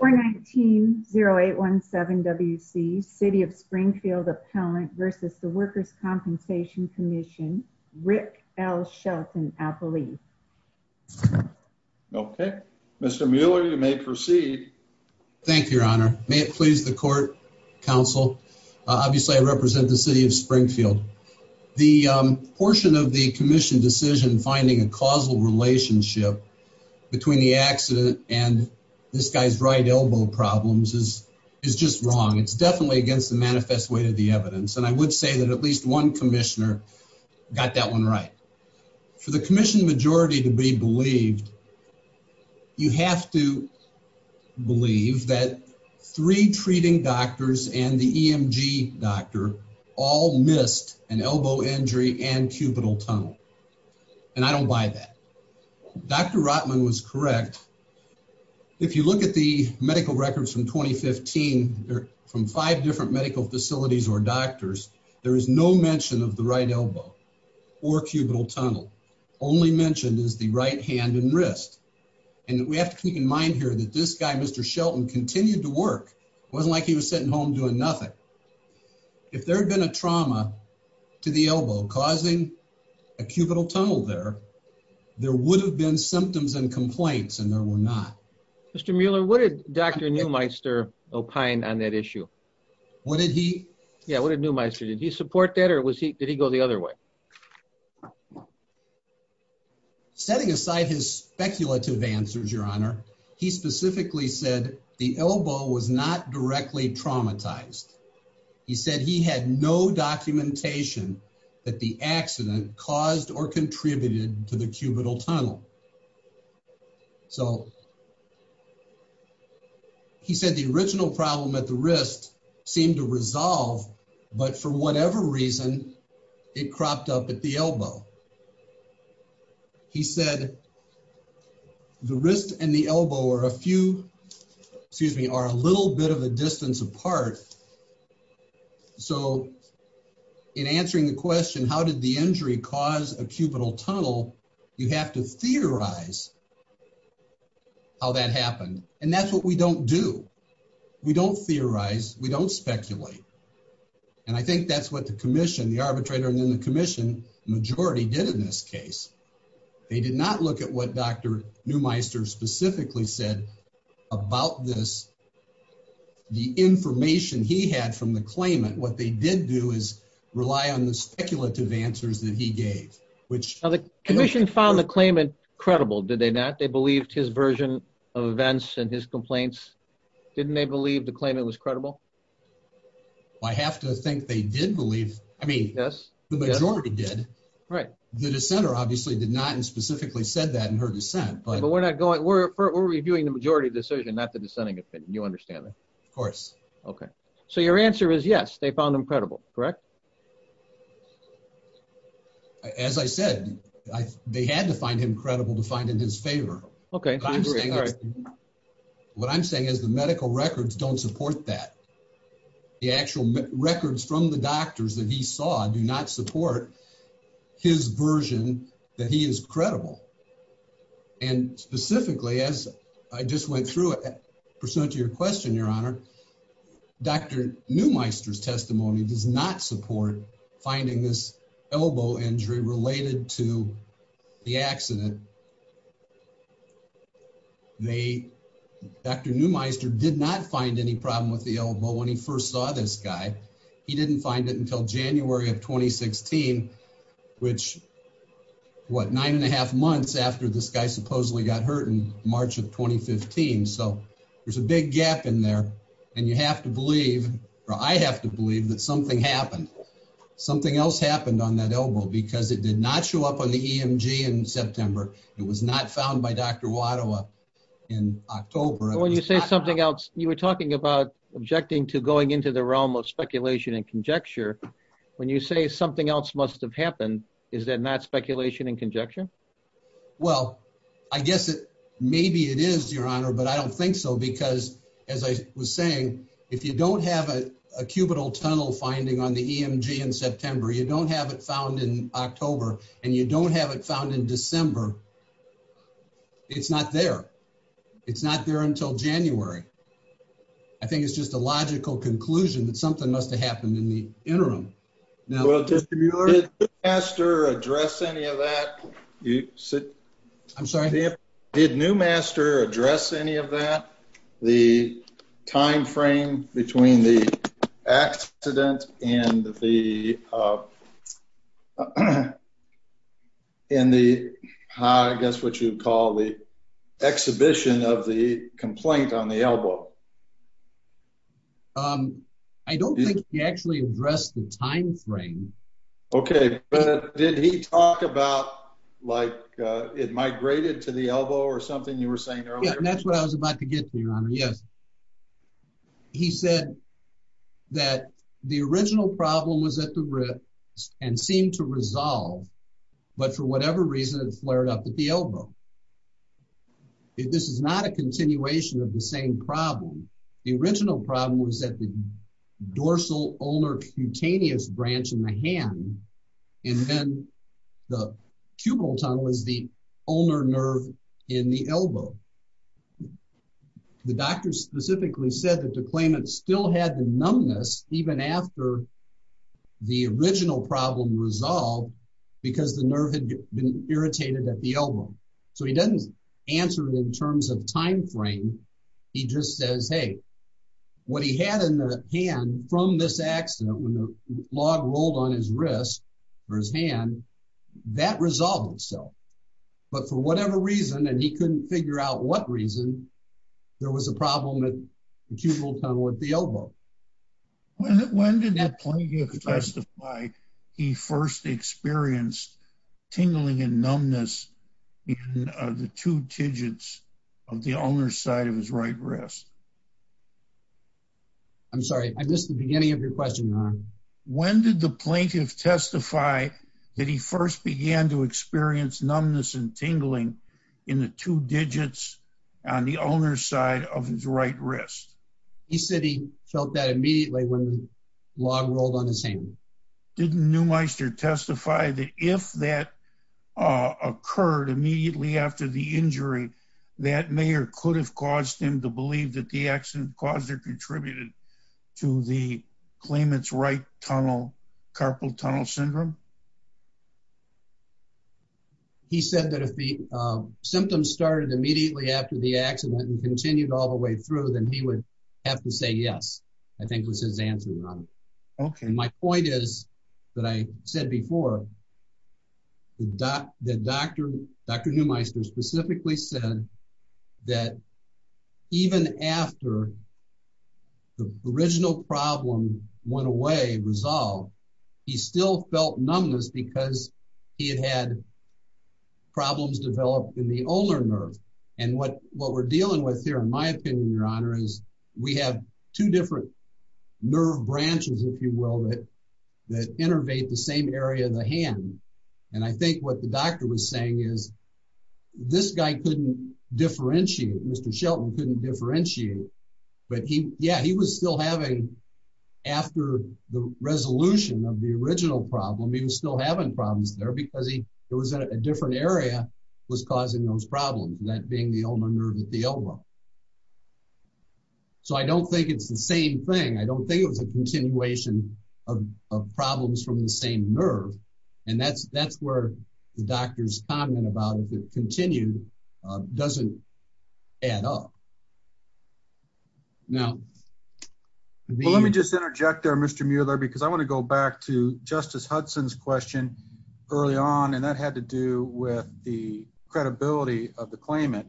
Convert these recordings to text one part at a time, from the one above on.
419-0817-WC City of Springfield Appellant v. The Workers' Compensation Commission Rick L. Shelton, Appellee. Okay, Mr. Mueller, you may proceed. Thank you, Your Honor. May it please the Court, Counsel. Obviously, I represent the City of Springfield. The portion of the Commission decision finding a causal relationship between the accident and this guy's right elbow problems is just wrong. It's definitely against the manifest weight of the evidence, and I would say that at least one Commissioner got that one right. For the Commission majority to be believed, you have to believe that three treating doctors and the EMG doctor all missed an elbow injury and cubital tunnel, and I don't buy that. Dr. Rotman was correct. If you look at the medical records from 2015 from five different medical facilities or doctors, there is no mention of the right elbow or cubital tunnel. Only mentioned is the right hand and wrist, and we have to keep in mind here that this guy, Mr. Shelton, continued to work. It wasn't like he was sitting home doing nothing. If there had been a trauma to the elbow causing a cubital tunnel there, there would have been symptoms and complaints, and there were not. Mr. Mueller, what did Dr. Neumeister opine on that issue? What did he? Yeah, what did Neumeister? Did he support that, or did he go the other way? Setting aside his speculative answers, Your Honor, he specifically said the elbow was not directly traumatized. He said he had no documentation that the accident caused or contributed to the cubital tunnel. So he said the original problem at the wrist seemed to resolve, but for whatever reason, it cropped up at the elbow. He said the wrist and the elbow are a few, excuse me, are a little bit of a distance apart. So in answering the question, how did the injury cause a cubital tunnel, you have to theorize how that happened, and that's what we don't do. We don't theorize, we don't speculate, and I think that's what the commission, the arbitrator, and then the commission majority did in this case. They did not look at what Dr. Neumeister specifically said about this. The information he had from the claimant, what they did do is rely on the speculative answers that he gave. Now the commission found the claimant credible, did they not? They believed his version of events and his complaints. Didn't they believe the claimant was credible? I have to think they did believe, I mean, the majority did. Right. The dissenter obviously did not specifically said that in her dissent, but we're not going, we're reviewing the majority decision, not the dissenting opinion, you understand that? Of course. Okay. So your answer is yes, they found him credible, correct? As I said, they had to find him credible to find in his favor. What I'm saying is the medical records don't support that. The actual records from the doctors that he saw do not support his version that he is credible. And specifically, as I just went through it, to your question, your honor, Dr. Neumeister's testimony does not support finding this elbow injury related to the accident. Dr. Neumeister did not find any problem with the elbow when he first saw this guy. He didn't find it until January of 2016, which what, nine and a half months after this guy supposedly got hurt in March of 2015. So there's a big gap in there and you have to believe, or I have to believe that something happened. Something else happened on that elbow because it did not show up on the EMG in September. It was not found by Dr. Watowa in October. When you say something else, you were talking about objecting to going into the realm of speculation and conjecture. When you say something else must have happened, is that not speculation and conjecture? Well, I guess it maybe it is your honor, but I don't think so. Because as I was saying, if you don't have a cubital tunnel finding on the EMG in September, you don't have it found in October and you don't have it found in December, it's not there. It's not there until January. I think it's just a logical conclusion that something must have happened in the interim. Did Newmaster address any of that? The time frame between the accident and the, I guess what you'd call the exhibition of the complaint on the elbow? I don't think he actually addressed the time frame. Okay, but did he talk about like it migrated to the elbow or something you were saying earlier? That's what I was about to get to your honor. Yes, he said that the original problem was at the ribs and seemed to resolve, but for whatever reason, it flared up at the elbow. This is not a continuation of the same problem. The original problem was that the dorsal ulnar cutaneous branch in the hand and then the cubital tunnel is the ulnar nerve in the elbow. The doctor specifically said that the claimant still had the numbness even after the original problem resolved because the nerve had been irritated at the elbow. He doesn't answer it in terms of time frame. He just says, hey, what he had in the hand from this accident when the log rolled on his wrist or his hand, that resolved itself. But for whatever reason, and he couldn't figure out what reason, there was a problem with the cubital tunnel at the elbow. When did the plaintiff testify he first experienced tingling and numbness in the two digits of the ulnar side of his right wrist? I'm sorry, I missed the beginning of your question. When did the plaintiff testify that he first began to experience numbness and tingling in the two digits on the ulnar side of his right wrist? He said he felt that immediately when the log rolled on his hand. Didn't Neumeister testify that if that occurred immediately after the injury, that may or could have caused him to believe that the accident caused or contributed to the claimant's carpal tunnel syndrome? No. He said that if the symptoms started immediately after the accident and continued all the way through, then he would have to say yes, I think was his answer. My point is that I said before that Dr. Neumeister specifically said that even after the original problem went away, resolved, he still felt numbness because he had had problems developed in the ulnar nerve. What we're dealing with here, in my opinion, Your Honor, is we have two different nerve branches, if you will, that innervate the same area of the hand. I think what the doctor was saying is this guy couldn't differentiate, Mr. Shelton couldn't differentiate, but yeah, he was still having, after the resolution of the original problem, he was still having problems there because it was in a different area that was causing those problems, that being the ulnar nerve at the elbow. I don't think it's the same thing. I don't think it was a continuation of problems from the same nerve. That's where the doctor's comment about the continued doesn't add up. Now, let me just interject there, Mr. Mueller, because I want to go back to Justice Hudson's question early on, and that had to do with the credibility of the claimant,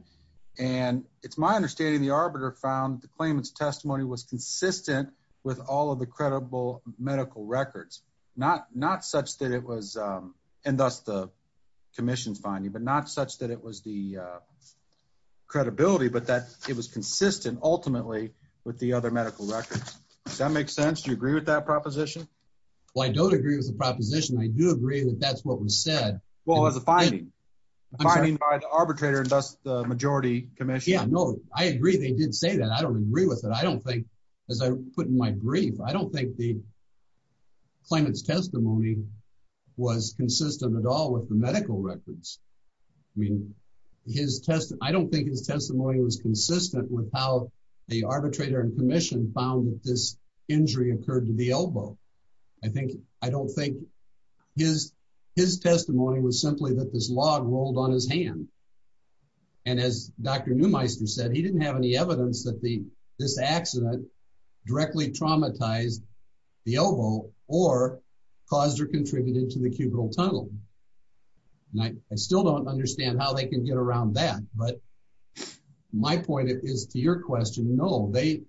and it's my understanding the arbiter found the claimant's testimony was consistent with all of the credible medical records, not such that it was, and thus the credibility, but that it was consistent ultimately with the other medical records. Does that make sense? Do you agree with that proposition? Well, I don't agree with the proposition. I do agree that that's what was said. Well, it was a finding. A finding by the arbitrator and thus the majority commission. Yeah, no, I agree they did say that. I don't agree with it. I don't think, as I put in my brief, I don't think the claimant's testimony was consistent at all with the medical records. His testimony, I don't think his testimony was consistent with how the arbitrator and commission found that this injury occurred to the elbow. I don't think his testimony was simply that this log rolled on his hand, and as Dr. Neumeister said, he didn't have any evidence that this accident directly traumatized the elbow or caused or contributed to the cubital tunnel. And I still don't understand how they can get around that, but my point is to your question, no, they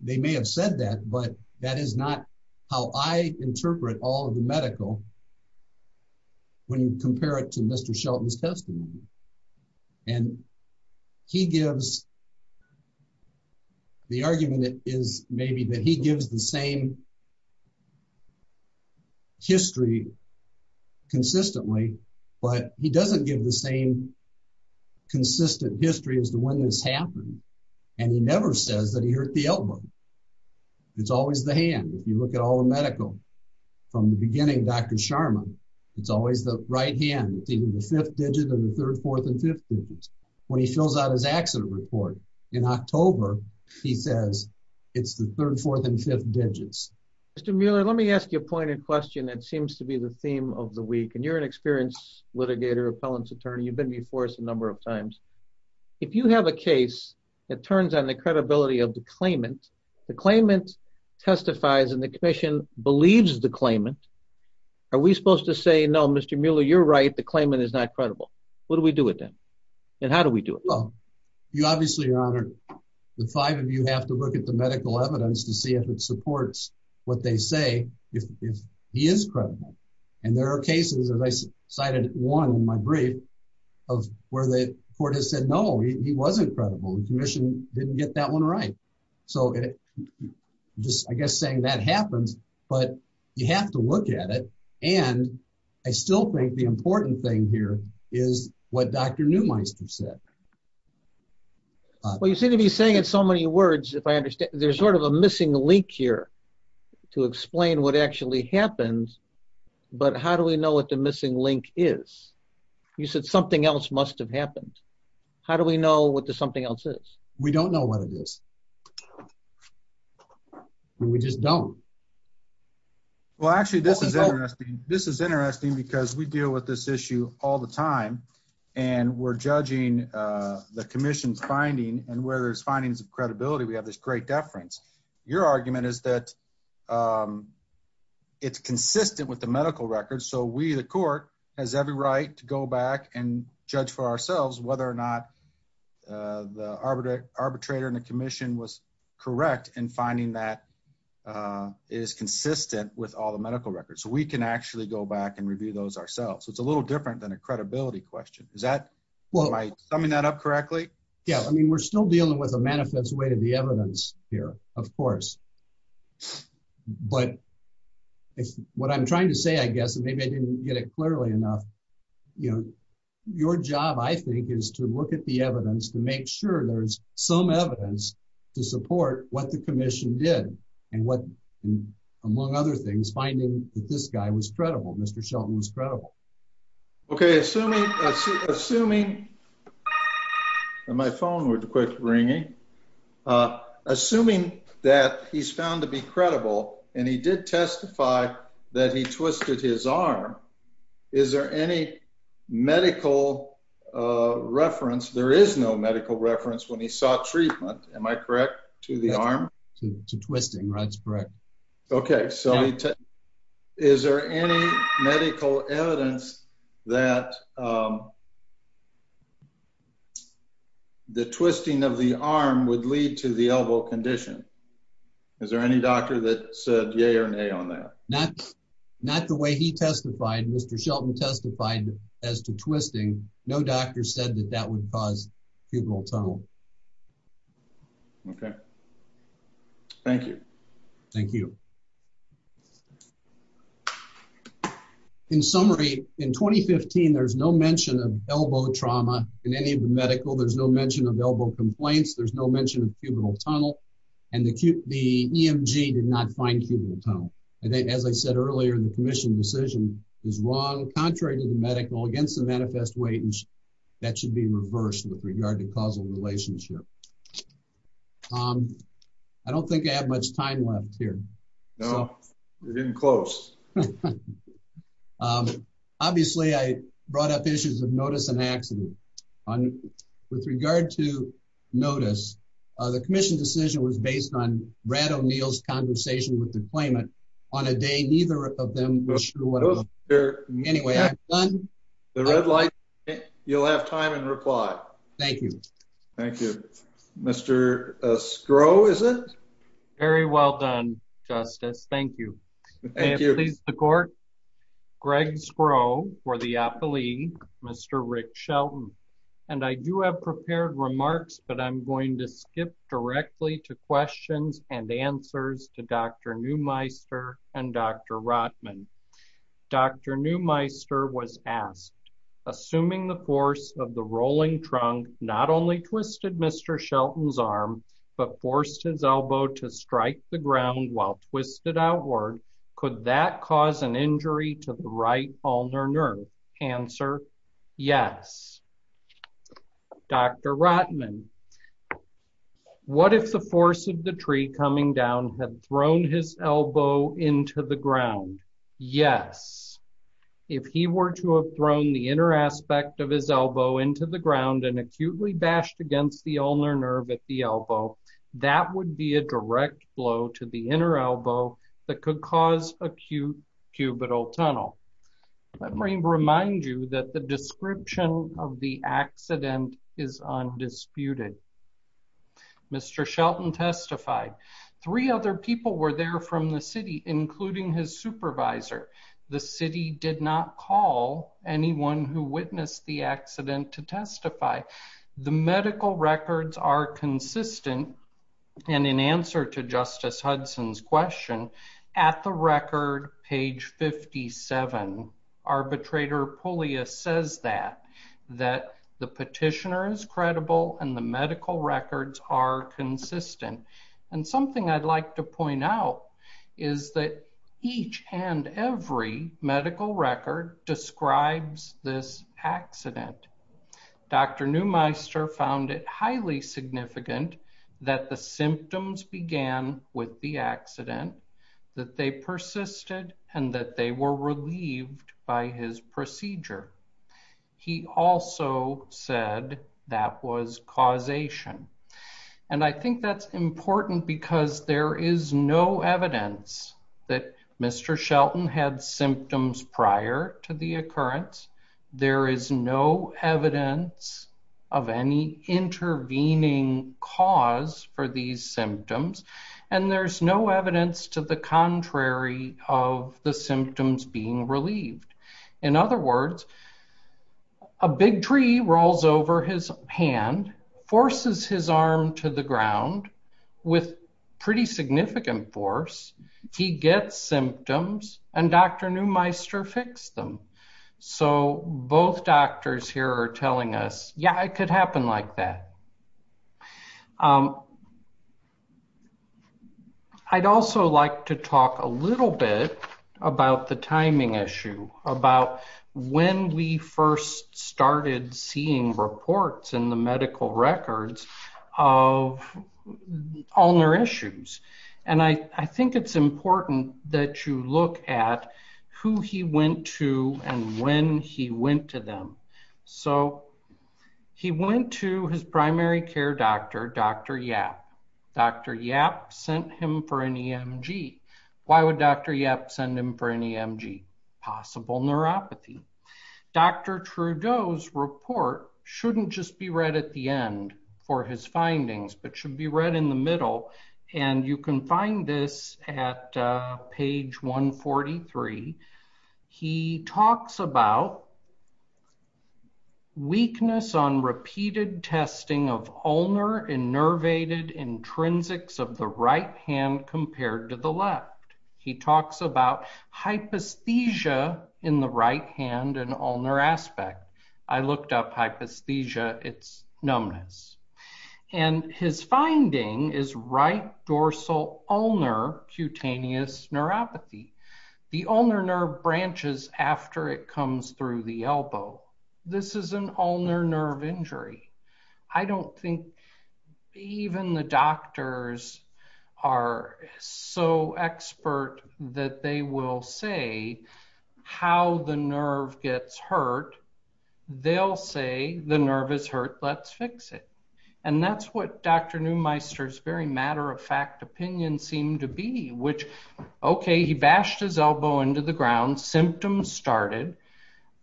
may have said that, but that is not how I interpret all of the medical when you compare it to Mr. Shelton's testimony. And he gives, the argument is maybe that he gives the same history consistently, but he doesn't give the same consistent history as to when this happened, and he never says that he hurt the elbow. It's always the hand. If you look at all the medical from the beginning, Dr. Sharma, it's always the right hand. It's even the fifth digit and the fourth. In October, he says it's the third, fourth and fifth digits. Mr. Mueller, let me ask you a point in question that seems to be the theme of the week, and you're an experienced litigator, appellant's attorney. You've been before us a number of times. If you have a case that turns on the credibility of the claimant, the claimant testifies and the commission believes the claimant, are we supposed to say, no, Mr. Mueller, you're right. The claimant is not credible. What do we do with them? And how do we do it? Well, you obviously, your honor, the five of you have to look at the medical evidence to see if it supports what they say, if he is credible. And there are cases, as I cited one in my brief, of where the court has said, no, he wasn't credible. The commission didn't get that one right. So just, I guess saying that happens, but you have to look at it. And I still think the is what Dr. Neumeister said. Well, you seem to be saying it so many words, if I understand, there's sort of a missing link here to explain what actually happened. But how do we know what the missing link is? You said something else must have happened. How do we know what the something else is? We don't know what it is. We just don't. Well, actually, this is interesting. Because we deal with this issue all the time. And we're judging the commission's finding and where there's findings of credibility, we have this great deference. Your argument is that it's consistent with the medical records. So we the court has every right to go back and judge for ourselves whether or not the arbitrator and the commission was correct in finding that is consistent with all the medical records. So we can actually go back and review those ourselves. So it's a little different than a credibility question. Is that summing that up correctly? Yeah, I mean, we're still dealing with a manifest way to the evidence here, of course. But it's what I'm trying to say, I guess, maybe I didn't get it clearly enough. You know, your job, I think, is to look at the evidence to make sure there's some evidence to get. And what, among other things, finding that this guy was credible, Mr. Shelton was credible. Okay, assuming my phone would quit ringing. Assuming that he's found to be credible, and he did testify that he twisted his arm. Is there any medical reference? There is no to twisting, right? That's correct. Okay, so is there any medical evidence that the twisting of the arm would lead to the elbow condition? Is there any doctor that said yay or nay on that? Not the way he testified. Mr. Shelton testified as to twisting. No doctor said that would cause cubital tunnel. Okay. Thank you. Thank you. In summary, in 2015, there's no mention of elbow trauma in any of the medical. There's no mention of elbow complaints. There's no mention of cubital tunnel. And the EMG did not find cubital tunnel. And then as I said earlier, the commission decision is wrong, contrary to the medical against the manifest weight. And that should be reversed with regard to causal relationship. I don't think I have much time left here. No, we're getting close. Obviously, I brought up issues of notice and accident. On with regard to notice, the commission decision was based on Brad O'Neill's conversation with the claimant on a day neither of them was sure. Anyway, I'm done. The red light. You'll have time and reply. Thank you. Thank you, Mr. Scrow. Is it? Very well done, Justice. Thank you. Thank you. Please, the court. Greg Scrow for the appellee, Mr. Rick Shelton. And I do have prepared remarks, but I'm going to skip directly to questions and answers to Dr. Neumeister and Dr. Rotman. Dr. Neumeister was asked, assuming the force of the rolling trunk not only twisted Mr. Shelton's arm, but forced his elbow to strike the ground while twisted outward. Could that cause an injury to the right ulnar nerve? Answer, yes. Dr. Rotman, what if the force of the tree coming down had thrown his elbow into the ground? Yes. If he were to have thrown the inner aspect of his elbow into the ground and acutely bashed against the ulnar nerve at the elbow, that would be a direct blow to the inner elbow that could cause acute cubital tunnel. Let me remind you that the description of the accident is undisputed. Mr. Shelton testified. Three other people were there from the city, including his supervisor. The city did not call anyone who witnessed the accident to testify. The medical records are consistent. And in answer to Justice Hudson's question, at the record, page 57, arbitrator Pullias says that, that the petitioner is credible and the medical records are consistent. And something I'd like to point out is that each and every medical record describes this accident. Dr. Neumeister found it highly significant that the symptoms began with the accident, that they persisted, and that they were relieved by his procedure. He also said that was causation. And I think that's important because there is no evidence that Mr. Shelton had symptoms prior to the occurrence. There is no evidence of any intervening cause for these symptoms. And there's no evidence to the contrary of the symptoms being relieved. In other words, a big tree rolls over his hand, forces his arm to the ground with pretty significant force. He gets symptoms and Dr. Neumeister fixed them. So both doctors here are telling us, yeah, it could happen like that. I'd also like to talk a little bit about the timing issue, about when we first started seeing reports in the medical records of ulnar issues. And I think it's important that you look at who he went to and when he went to them. So he went to his primary care doctor, Dr. Yap. Dr. Yap sent him for an EMG. Why would Dr. Yap send him for an EMG? Possible neuropathy. Dr. Trudeau's report shouldn't just be read at the end for his findings. You can find this at page 143. He talks about weakness on repeated testing of ulnar innervated intrinsics of the right hand compared to the left. He talks about hypesthesia in the right hand and ulnar aspect. I looked up hypesthesia, it's numbness. And his finding is right dorsal ulnar cutaneous neuropathy. The ulnar nerve branches after it comes through the elbow. This is an ulnar nerve injury. I don't think even the doctors are so expert that they will say how the nerve gets hurt. They'll say the nerve is hurt, let's fix it. And that's what Dr. Neumeister very matter of fact opinion seemed to be, which, okay, he bashed his elbow into the ground, symptoms started,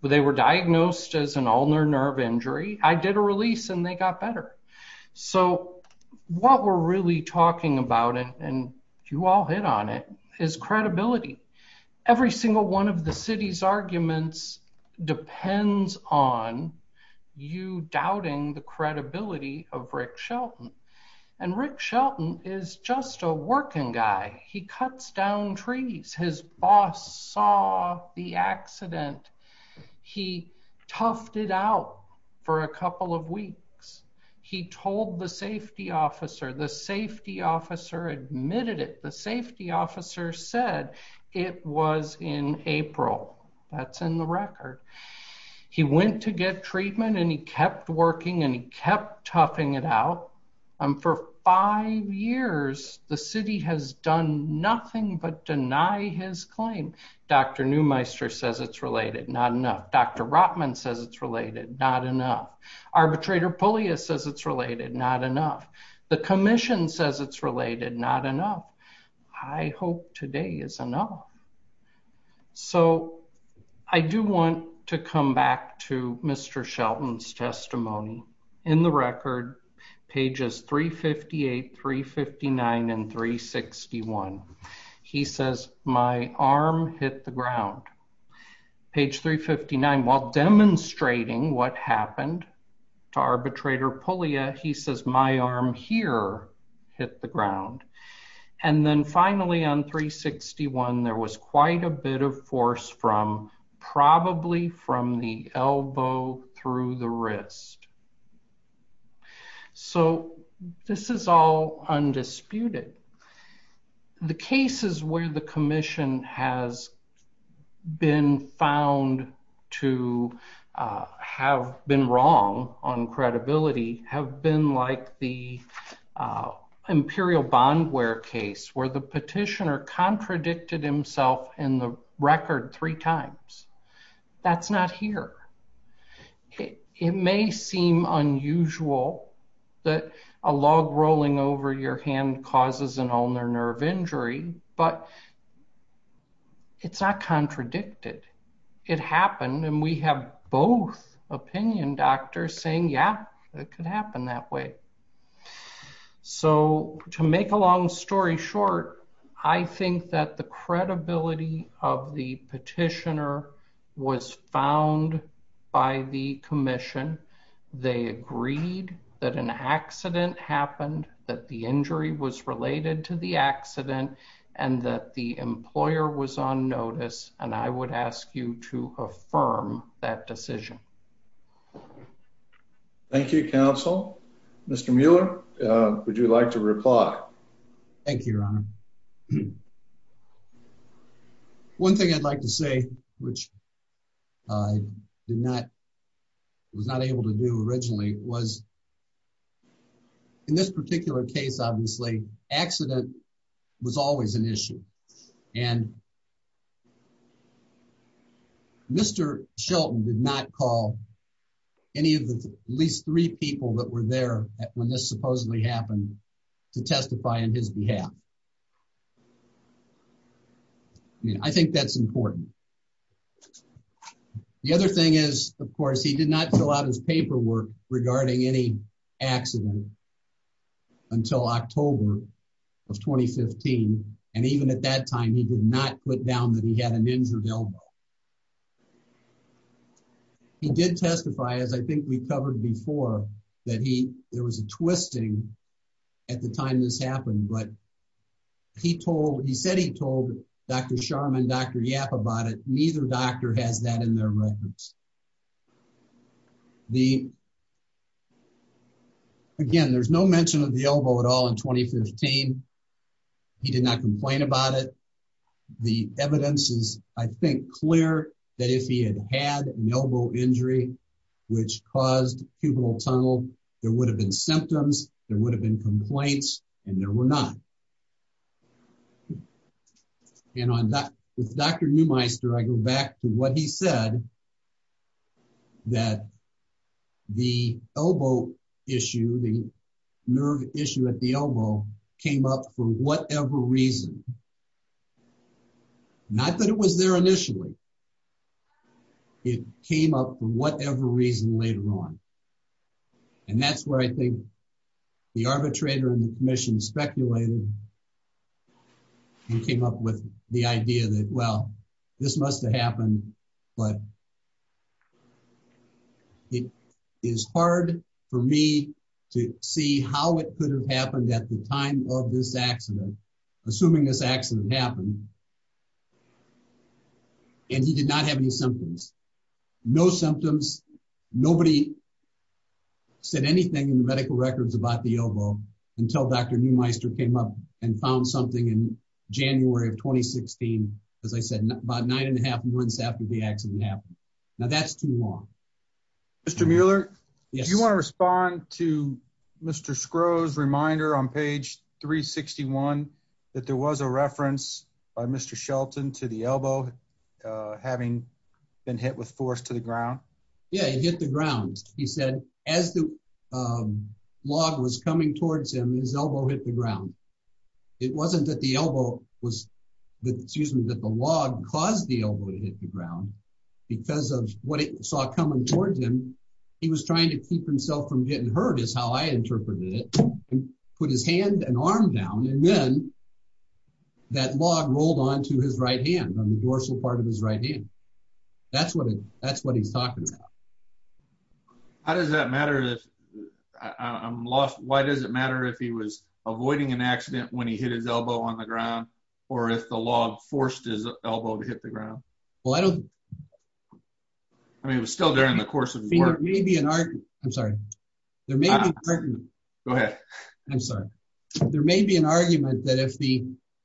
but they were diagnosed as an ulnar nerve injury. I did a release and they got better. So what we're really talking about and you all hit on it is credibility. Every single one of Rick Shelton, and Rick Shelton is just a working guy. He cuts down trees. His boss saw the accident. He toughed it out for a couple of weeks. He told the safety officer, the safety officer admitted it. The safety officer said it was in April. That's in the record. He went to get treatment and he kept toughing it out. And for five years, the city has done nothing but deny his claim. Dr. Neumeister says it's related, not enough. Dr. Rotman says it's related, not enough. Arbitrator Pullia says it's related, not enough. The commission says it's related, not enough. I hope today is enough. So I do want to come back to Mr. Shelton's testimony. In the record, pages 358, 359, and 361, he says, my arm hit the ground. Page 359, while demonstrating what finally on 361, there was quite a bit of force from probably from the elbow through the wrist. So this is all undisputed. The cases where the commission has been found to have been wrong on credibility have been like the Imperial Bondware case where the petitioner contradicted himself in the record three times. That's not here. It may seem unusual that a log rolling over your hand causes an ulnar nerve injury, but it's not contradicted. It happened and we have both opinion doctors saying, yeah, it could happen that way. So to make a long story short, I think that the credibility of the petitioner was found by the commission. They agreed that an accident happened, that the injury was related to the accident and that the employer was on notice. And I would ask you to affirm that decision. Thank you, Council. Mr. Mueller, would you like to reply? Thank you, Your Honor. One thing I'd like to say, which I did not, was not able to do originally, was in this particular case, obviously accident was always an issue and Mr. Shelton did not call any of the at least three people that were there when this supposedly happened to testify on his behalf. I mean, I think that's important. The other thing is, of course, he did not fill out his paperwork regarding any accident until October of 2015. And even at that time, he did not put down that he had an injured elbow. He did testify, as I think we covered before, that he, there was a twisting at the time this neither doctor has that in their records. The, again, there's no mention of the elbow at all in 2015. He did not complain about it. The evidence is, I think, clear that if he had had an elbow injury, which caused cubital tunnel, there would have been symptoms, there would have been complaints, and there were none. And on that, with Dr. Neumeister, I go back to what he said, that the elbow issue, the nerve issue at the elbow came up for whatever reason. Not that it was there initially, it came up for whatever reason later on. And that's where I think the arbitrator and the commission speculated and came up with the idea that, well, this must have happened, but it is hard for me to see how it could have happened at the time of this accident, assuming this accident happened. And he did not have any symptoms, no symptoms. Nobody said anything in the medical records about the elbow until Dr. Neumeister came up and found something in January of 2016, as I said, about nine and a half months after the accident happened. Now, that's too long. Mr. Mueller, do you want to respond to Mr. Skro's reminder on page 361 that there was a reference by Mr. Shelton to the elbow having been hit with force to the ground? It hit the ground. He said, as the log was coming towards him, his elbow hit the ground. It wasn't that the log caused the elbow to hit the ground, because of what it saw coming towards him, he was trying to keep himself from getting hurt is how I interpreted it, and put his hand and arm down, and then that log rolled onto his right hand, on the dorsal part of his right hand. That's what that's what he's talking about. How does that matter? I'm lost. Why does it matter if he was avoiding an accident when he hit his elbow on the ground? Or if the log forced his elbow to hit the ground? Well, I don't. I mean, it was still there in the course of maybe an art. I'm sorry. There may be. Go ahead. I'm sorry. There may be an argument that if the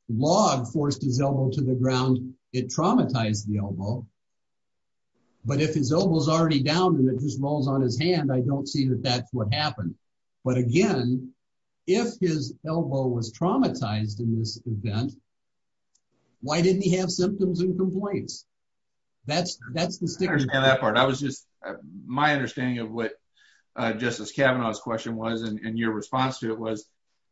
log forced his elbow to the ground, it traumatized the elbow. But if his elbow is already down, and it just rolls on his hand, I don't see that that's what happened. But again, if his elbow was traumatized in this event, why didn't he have symptoms and complaints? That's, that's the sticker on that part. I was just, my understanding of what Justice Kavanaugh's question was, and your response to it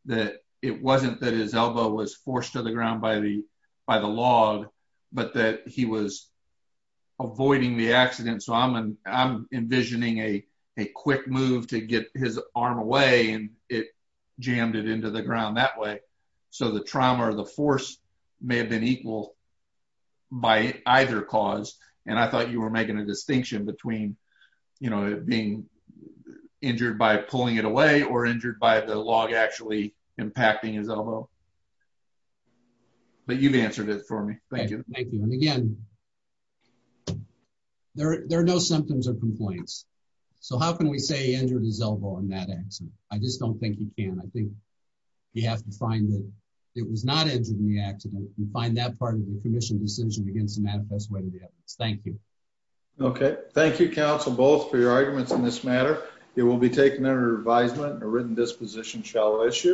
that it wasn't that his elbow was forced to the ground by the by the log, but that he was avoiding the accident. So I'm, I'm envisioning a, a quick move to get his arm away. And it jammed it into the ground that way. So the trauma or the force may have been equal by either cause. And I thought you were making a distinction between, you know, being injured by pulling it away, or injured by the log actually impacting his elbow. But you've answered it for me. Thank you. Thank you. And again, there are no symptoms or complaints. So how can we say he injured his elbow in that accident? I just don't think you can. I think you have to find that it was not injured in the accident, and find that part of the commission decision against the manifest way to the evidence. Thank you. Okay. Thank you, counsel, both for your arguments in this matter. It will be taken under advisement. A written disposition shall issue.